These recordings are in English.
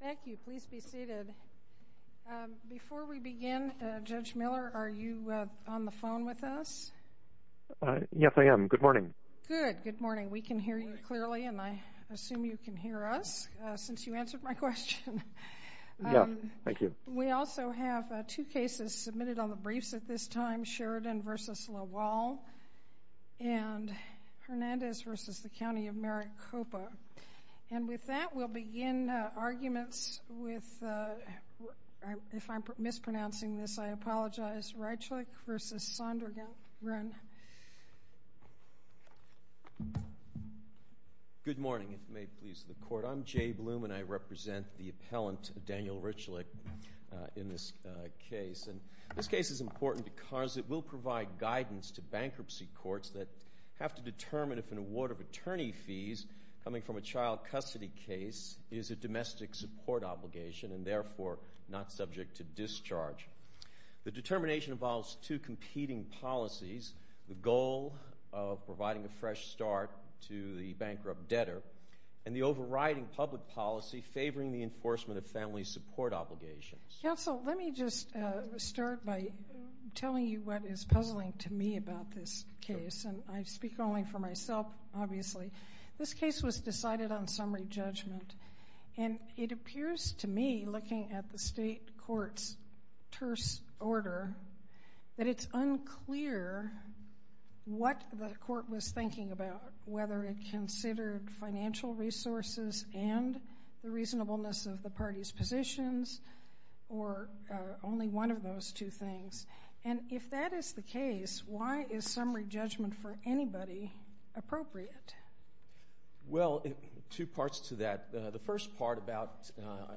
Thank you. Please be seated. Before we begin, Judge Miller, are you on the phone with us? Yes, I am. Good morning. Good. Good morning. We can hear you clearly, and I assume you can hear us since you answered my question. Yes. Thank you. We also have two cases submitted on the briefs at this time, Sheridan v. Lawal and Hernandez v. The County of Maricopa. And with that, we'll begin arguments with, if I'm mispronouncing this, I apologize, Rychlik v. Sodergren. Good morning, if it may please the Court. I'm Jay Bloom, and I represent the appellant, Daniel Rychlik, in this case. And this case is important because it will provide guidance to bankruptcy courts that have to determine if an award of attorney fees coming from a child custody case is a domestic support obligation and therefore not subject to discharge. The determination involves two competing policies, the goal of providing a fresh start to the bankrupt debtor and the overriding public policy favoring the enforcement of family support obligations. Counsel, let me just start by telling you what is puzzling to me about this case. And I speak only for myself, obviously. This case was decided on summary judgment. And it appears to me, looking at the state court's terse order, that it's unclear what the court was thinking about, whether it considered financial resources and the reasonableness of the parties' positions or only one of those two things. And if that is the case, why is summary judgment for anybody appropriate? Well, two parts to that. The first part about,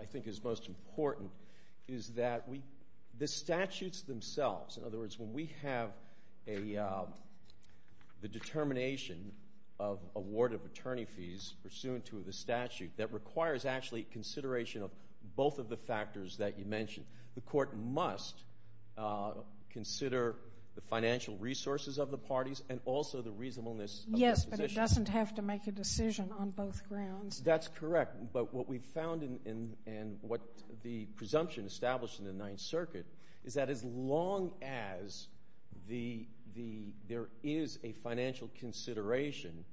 I think is most important, is that the statutes themselves, in other words, when we have the determination of award of attorney fees pursuant to the statute, that requires actually consideration of both of the factors that you mentioned. The court must consider the financial resources of the parties and also the reasonableness of their positions. Yes, but it doesn't have to make a decision on both grounds. That's correct. But what we found and what the presumption established in the Ninth Circuit is that as long as there is a financial consideration,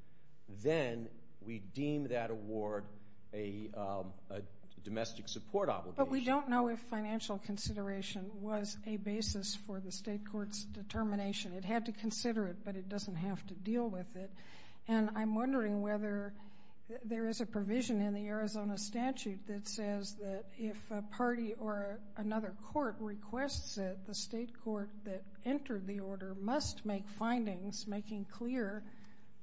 then we deem that award a domestic support obligation. But we don't know if financial consideration was a basis for the state court's determination. It had to consider it, but it doesn't have to deal with it. And I'm wondering whether there is a provision in the Arizona statute that says that if a party or another court requests it, the state court that entered the order must make findings making clear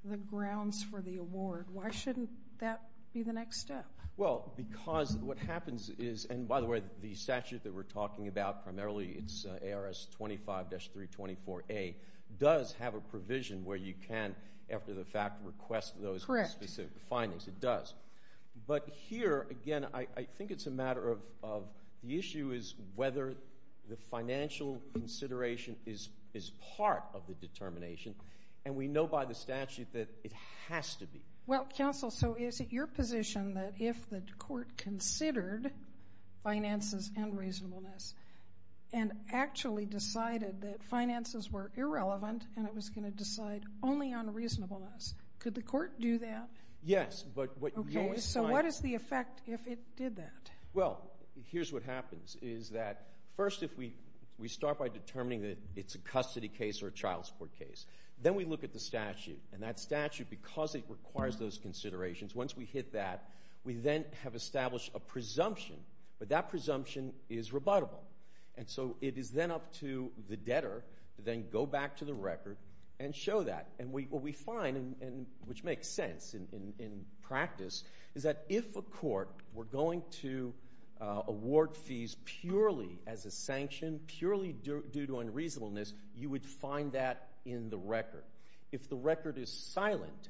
the grounds for the award. Why shouldn't that be the next step? Well, because what happens is, and by the way, the statute that we're talking about, primarily it's ARS 25-324A, does have a provision where you can, after the fact, request those specific findings. It does. But here, again, I think it's a matter of the issue is whether the financial consideration is part of the determination. And we know by the statute that it has to be. Well, counsel, so is it your position that if the court considered finances and reasonableness and actually decided that finances were irrelevant and it was going to decide only on reasonableness, could the court do that? Yes. Okay, so what is the effect if it did that? Well, here's what happens is that first if we start by determining that it's a custody case or a child support case, then we look at the statute. And that statute, because it requires those considerations, once we hit that, we then have established a presumption. But that presumption is rebuttable. And so it is then up to the debtor to then go back to the record and show that. And what we find, which makes sense in practice, is that if a court were going to award fees purely as a sanction, purely due to unreasonableness, you would find that in the record. If the record is silent,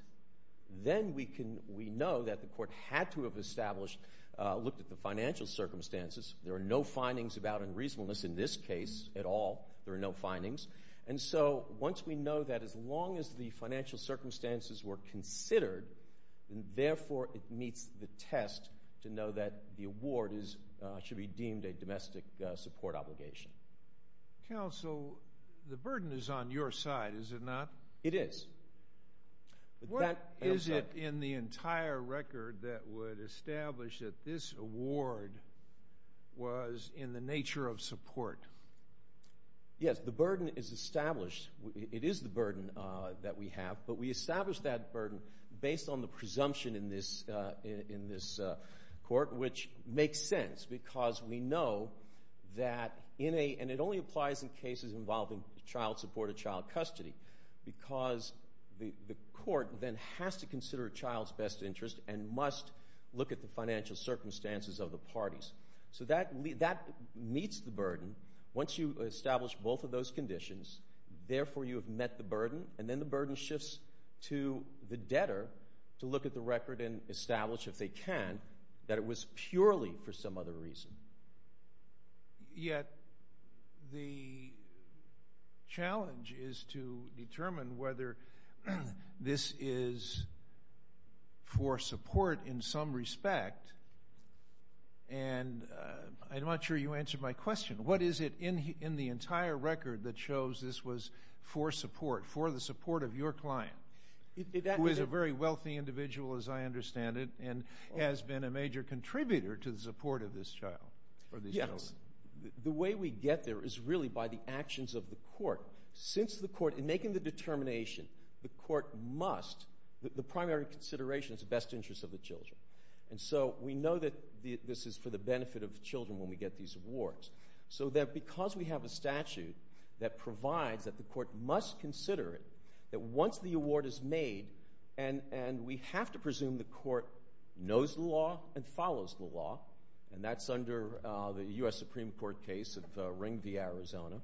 then we know that the court had to have established, looked at the financial circumstances. There are no findings about unreasonableness in this case at all. There are no findings. And so once we know that, as long as the financial circumstances were considered, then therefore it meets the test to know that the award should be deemed a domestic support obligation. Counsel, the burden is on your side, is it not? It is. What is it in the burden is established. It is the burden that we have, but we establish that burden based on the presumption in this court, which makes sense because we know that, and it only applies in cases involving child support or child custody, because the court then has to consider a child's best interest and must look at the financial circumstances of the parties. So that meets the burden. Once you establish both of those conditions, therefore you have met the burden, and then the burden shifts to the debtor to look at the record and establish, if they can, that it was purely for some other reason. Yet the challenge is to determine whether this is for support in some respect. And I'm not sure you answered my question. What is it in the entire record that shows this was for support, for the support of your client, who is a very wealthy individual, as I understand it, and has been a major contributor to the support of this child? Yes. The way we get there is really by the actions of the court. Since the court, in making the determination, the court must, the primary consideration is the best interest of the children. And so we know that this is for the benefit of children when we get these awards. So that because we have a statute that provides that the court must consider it, that once the award is made, and we have to presume the court knows the law and follows the law, and that's under the U.S. Supreme Court case of Ring v. Arizona.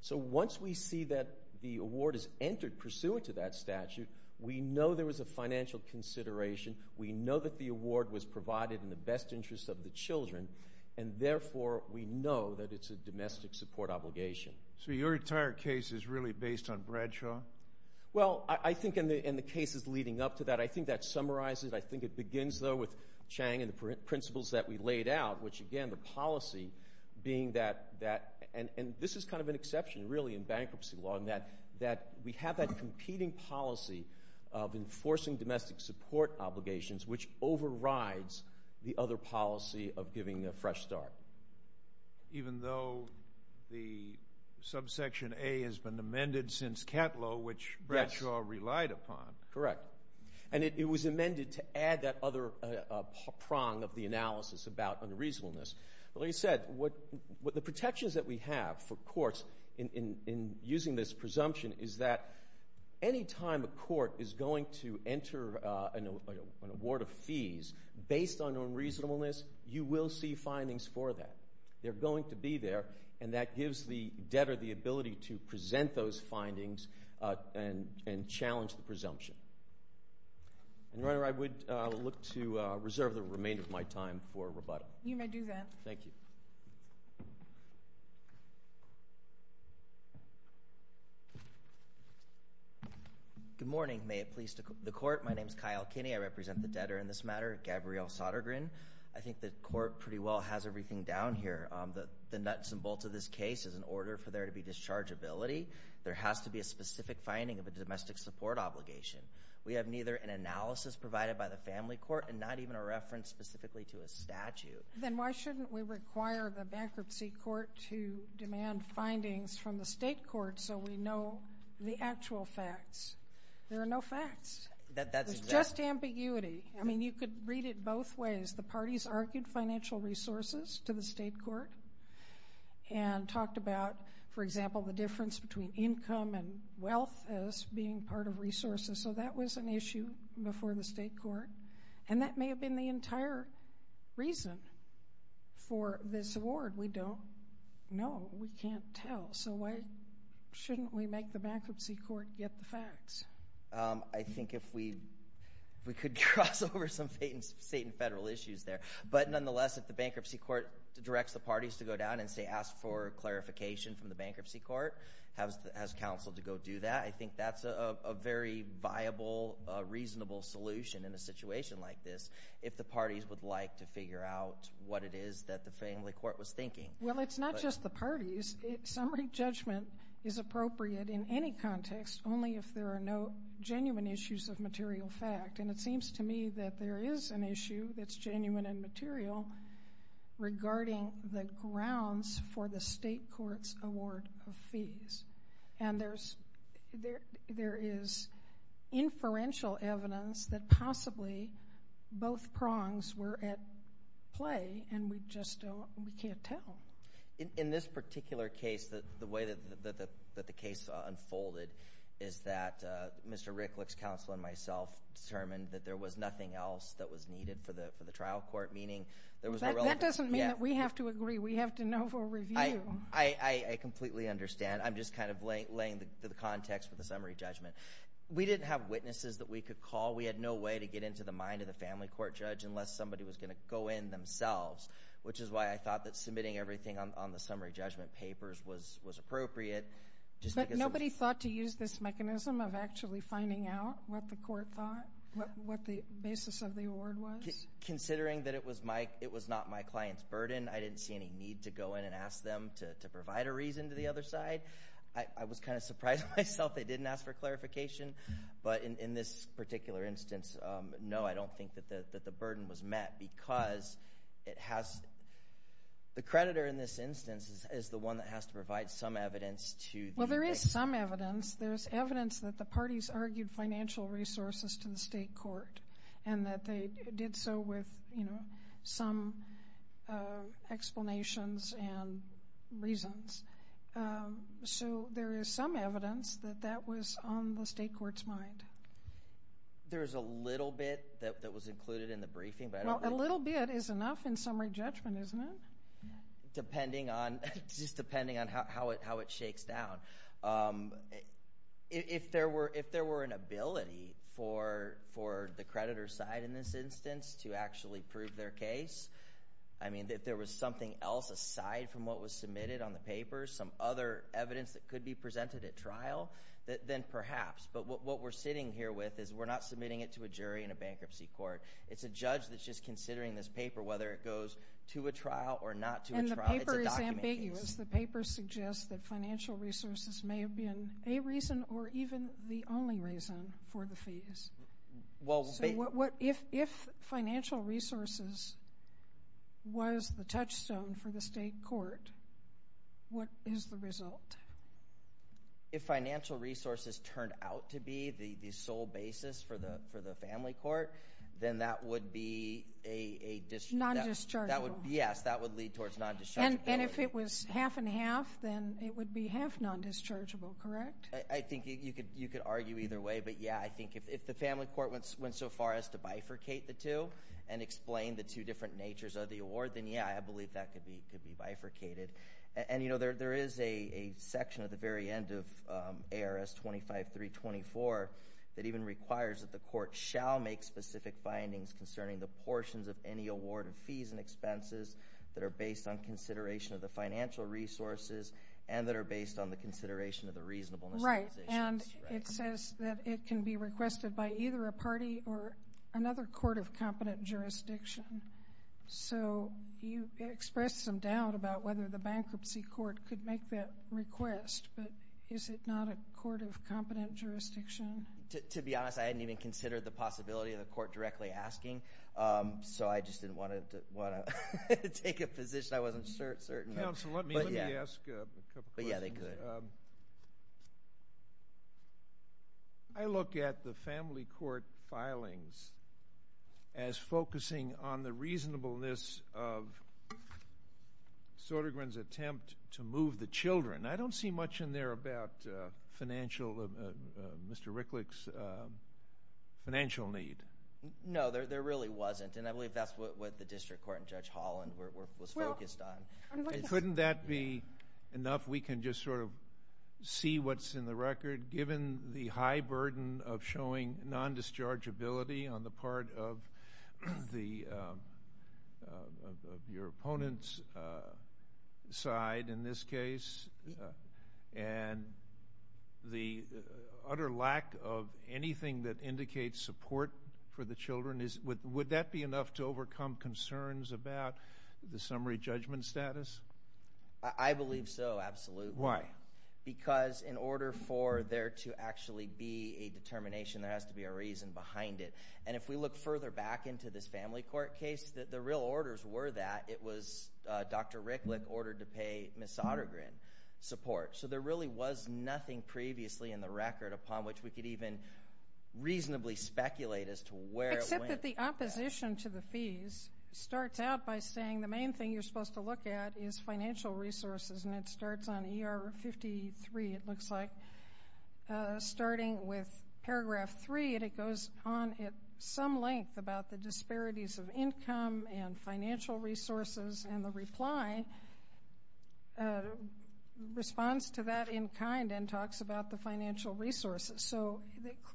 So once we see that the award is entered pursuant to that statute, we know there was a financial consideration, we know that the award was provided in the best interest of the children, and therefore we know that it's a domestic support obligation. So your entire case is really based on Bradshaw? Well, I think in the cases leading up to that, I think that summarizes, I think it begins, though, with Chang and the principles that we laid out, which, again, the policy being that, and this is kind of an exception, really, in bankruptcy law, that we have that competing policy of enforcing domestic support obligations, which overrides the other policy of giving a fresh start. Even though the subsection A has been amended since Catlow, which Bradshaw relied upon. Correct. And it was amended to add that other prong of the analysis about unreasonableness. Like you said, the protections that we have for courts in using this presumption is that any time a court is going to enter an award of fees based on unreasonableness, you will see findings for that. They're going to be there, and that gives the challenge to the presumption. And, Your Honor, I would look to reserve the remainder of my time for rebuttal. You may do that. Thank you. Good morning. May it please the Court. My name is Kyle Kinney. I represent the debtor in this matter, Gabrielle Sodergren. I think the Court pretty well has everything down here. The nuts and bolts of this case is an order for there to be a domestic support obligation. We have neither an analysis provided by the family court and not even a reference specifically to a statute. Then why shouldn't we require the bankruptcy court to demand findings from the state court so we know the actual facts? There are no facts. That's just ambiguity. I mean, you could read it both ways. The parties argued financial resources to the state court and talked about, for example, the difference between income and wealth as being part of resources. So that was an issue before the state court, and that may have been the entire reason for this award. We don't know. We can't tell. So why shouldn't we make the bankruptcy court get the facts? I think if we could cross over some state and federal issues there. But nonetheless, if the bankruptcy court directs the parties to go down and say, ask for clarification from the bankruptcy court, has counsel to go do that, I think that's a very viable, reasonable solution in a situation like this if the parties would like to figure out what it is that the family court was thinking. Well, it's not just the parties. Summary judgment is appropriate in any context, only if there are no genuine issues of material fact. And it seems to me that there is an issue that's genuine and material regarding the grounds for the state court's award of fees. And there is inferential evidence that possibly both prongs were at play, and we just don't, we can't tell. In this particular case, the way that the case unfolded is that Mr. Ricklick's counsel and myself determined that there was nothing else that was needed for the trial court, meaning there was a relevant... That doesn't mean that we have to agree. We have to know for review. I completely understand. I'm just kind of laying the context for the summary judgment. We didn't have witnesses that we could call. We had no way to get into the mind of the family court judge unless somebody was going to go in themselves, which is why I thought that submitting everything on the summary judgment papers was appropriate. But nobody thought to use this finding out what the court thought, what the basis of the award was? Considering that it was my, it was not my client's burden, I didn't see any need to go in and ask them to provide a reason to the other side. I was kind of surprised myself they didn't ask for clarification. But in this particular instance, no, I don't think that the burden was met because it has... The creditor in this instance is the one that has to provide some evidence to... Well, there is some evidence. There's evidence that the parties argued financial resources to the state court and that they did so with, you know, some explanations and reasons. So there is some evidence that that was on the state court's mind. There's a little bit that was included in the briefing, but... Well, a little bit is enough in summary judgment, isn't it? Depending on, just depending on how it shakes down. If there were, if there were an ability for the creditor's side in this instance to actually prove their case, I mean, if there was something else aside from what was submitted on the paper, some other evidence that could be presented at trial, then perhaps. But what we're sitting here with is we're not submitting it to a jury in a bankruptcy court. It's a judge that's just considering this paper, whether it goes to a trial or not to a trial. And the paper is ambiguous. The paper suggests that financial resources may have been a reason or even the only reason for the fees. Well, if financial resources was the touchstone for the state court, what is the result? If financial resources turned out to be the sole basis for the family court, then that would be half and half, then it would be half non-dischargeable, correct? I think you could argue either way. But yeah, I think if the family court went so far as to bifurcate the two and explain the two different natures of the award, then yeah, I believe that could be bifurcated. And you know, there is a section at the very end of ARS 25324 that even requires that the court shall make specific findings concerning the portions of any award of fees and expenses that are based on resources and that are based on the consideration of the reasonableness. Right. And it says that it can be requested by either a party or another court of competent jurisdiction. So you expressed some doubt about whether the bankruptcy court could make that request, but is it not a court of competent jurisdiction? To be honest, I hadn't even considered the possibility of the court directly asking, so I just didn't want to take a position I wasn't certain of. Counsel, let me ask a couple questions. But yeah, they could. I look at the family court filings as focusing on the reasonableness of Södergren's attempt to move the children. I don't see much in there about Mr. Ricklick's financial need. No, there really wasn't. And I believe that's what the District Court and Judge Holland was focused on. Couldn't that be enough? We can just sort of see what's in the record, given the high burden of showing non-dischargeability on the part of your opponent's side in this case, and the utter lack of anything that indicates support for the children. Would that be enough to overcome concerns about the summary judgment status? I believe so, absolutely. Why? Because in order for there to actually be a determination, there has to be a reason behind it. And if we look further back into this family court case, the real orders were that it was Dr. Ricklick ordered to pay Ms. Södergren support. So there really was nothing previously in the record upon which we could even reasonably speculate as to where it went. Except that the opposition to the fees starts out by saying the main thing you're supposed to look at is financial resources, and it starts on ER 53, it looks like, starting with paragraph 3, and it goes on at some length about the disparities of income and financial resources, and the reply responds to that in kind and talks about the financial resources. So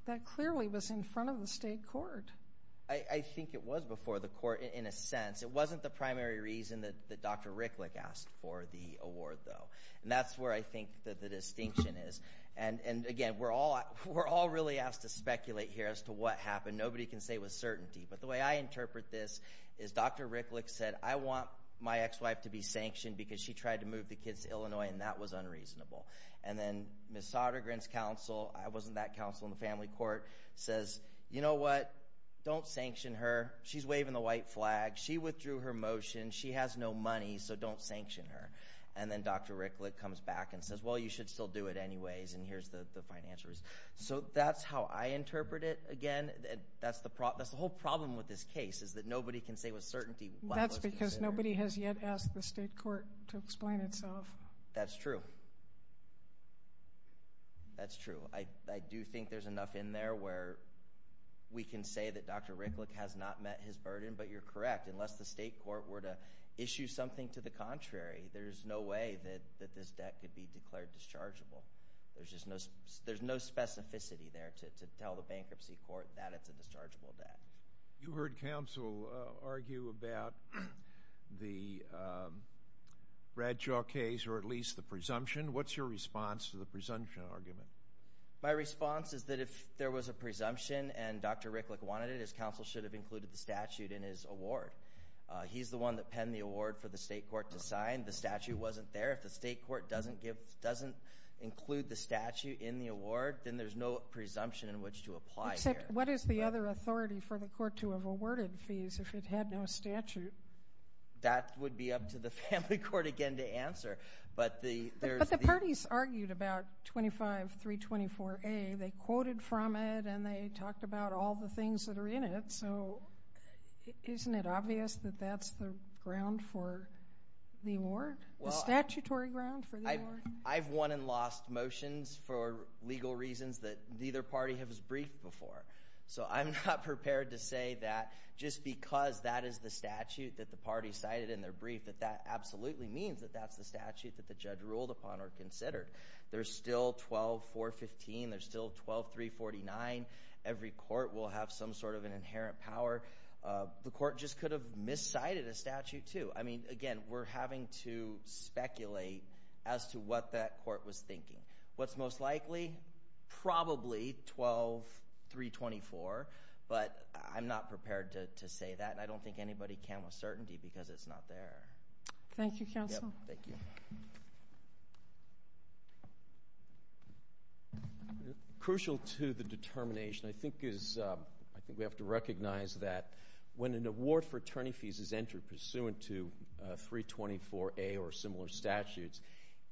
that clearly was in front of the state court. I think it was before the court, in a sense. It wasn't the primary reason that Dr. Ricklick asked for the award, though. And that's I think the distinction is. And again, we're all really asked to speculate here as to what happened. Nobody can say with certainty. But the way I interpret this is Dr. Ricklick said, I want my ex-wife to be sanctioned because she tried to move the kids to Illinois, and that was unreasonable. And then Ms. Södergren's counsel, it wasn't that counsel in the family court, says, you know what? Don't sanction her. She's waving the white flag. She withdrew her motion. She has no money, so don't sanction her. And then Dr. Ricklick comes back and says, well, you should still do it anyways, and here's the financial reasons. So that's how I interpret it. Again, that's the whole problem with this case is that nobody can say with certainty. That's because nobody has yet asked the state court to explain itself. That's true. That's true. I do think there's enough in there where we can say that Dr. Ricklick met his burden, but you're correct. Unless the state court were to issue something to the contrary, there's no way that this debt could be declared dischargeable. There's just no specificity there to tell the bankruptcy court that it's a dischargeable debt. You heard counsel argue about the Bradshaw case, or at least the presumption. What's your response to the presumption argument? My response is that if there was a statute in his award, he's the one that penned the award for the state court to sign. The statute wasn't there. If the state court doesn't include the statute in the award, then there's no presumption in which to apply here. Except what is the other authority for the court to have awarded fees if it had no statute? That would be up to the family court again to answer. But the parties argued about 25324A. They quoted from it, and they talked about all the things that were in it. So isn't it obvious that that's the statutory ground for the award? I've won and lost motions for legal reasons that neither party has briefed before. So I'm not prepared to say that just because that is the statute that the party cited in their brief, that that absolutely means that that's the statute that the judge ruled upon or considered. There's still 12415. There's still 12349. Every court will have some sort of an inherent power. The court just could have miscited a statute, too. I mean, again, we're having to speculate as to what that court was thinking. What's most likely? Probably 12324. But I'm not prepared to say that, and I don't think anybody can with certainty because it's not there. Thank you, counsel. Thank you. Crucial to the determination, I think we have to recognize that when an award for attorney fees is entered pursuant to 324A or similar statutes,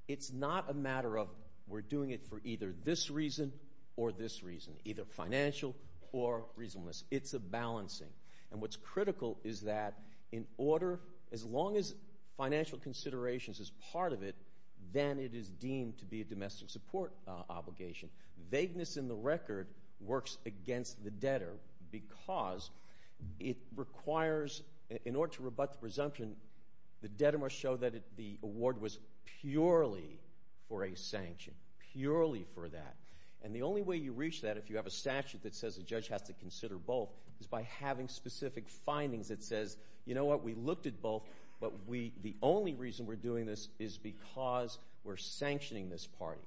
it's not a matter of we're doing it for either this reason or this reason, either financial or reasonableness. It's a balancing. And what's critical is that in order, as long as financial considerations is part of it, then it is deemed to be a domestic support obligation. Vagueness in the record works against the debtor because it requires, in order to rebut the presumption, the debtor must show that the award was purely for a sanction, purely for that. And the only way you reach that if you have a statute that says a judge has to consider both is by having specific findings that says, you know what, we looked at both, but the only reason we're doing this is because we're sanctioning this party.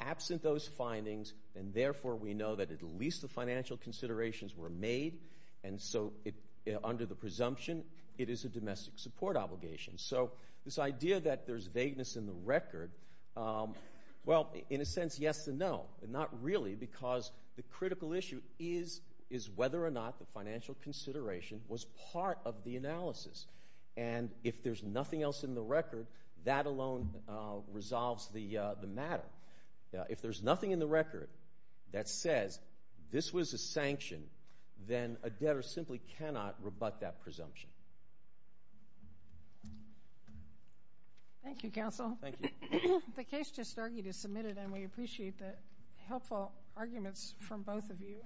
Absent those findings, and therefore we know that at least the financial considerations were made, and so under the presumption, it is a domestic support obligation. So this idea that there's vagueness in the record, well, in a sense, yes and no. Not really because the critical issue is whether or not the financial consideration was part of the analysis. And if there's nothing else in the record, that alone resolves the matter. If there's nothing in the record that says this was a sanction, then a debtor simply cannot rebut that presumption. Thank you, counsel. Thank you. The case just argued is submitted, and we appreciate the helpful arguments from both of you.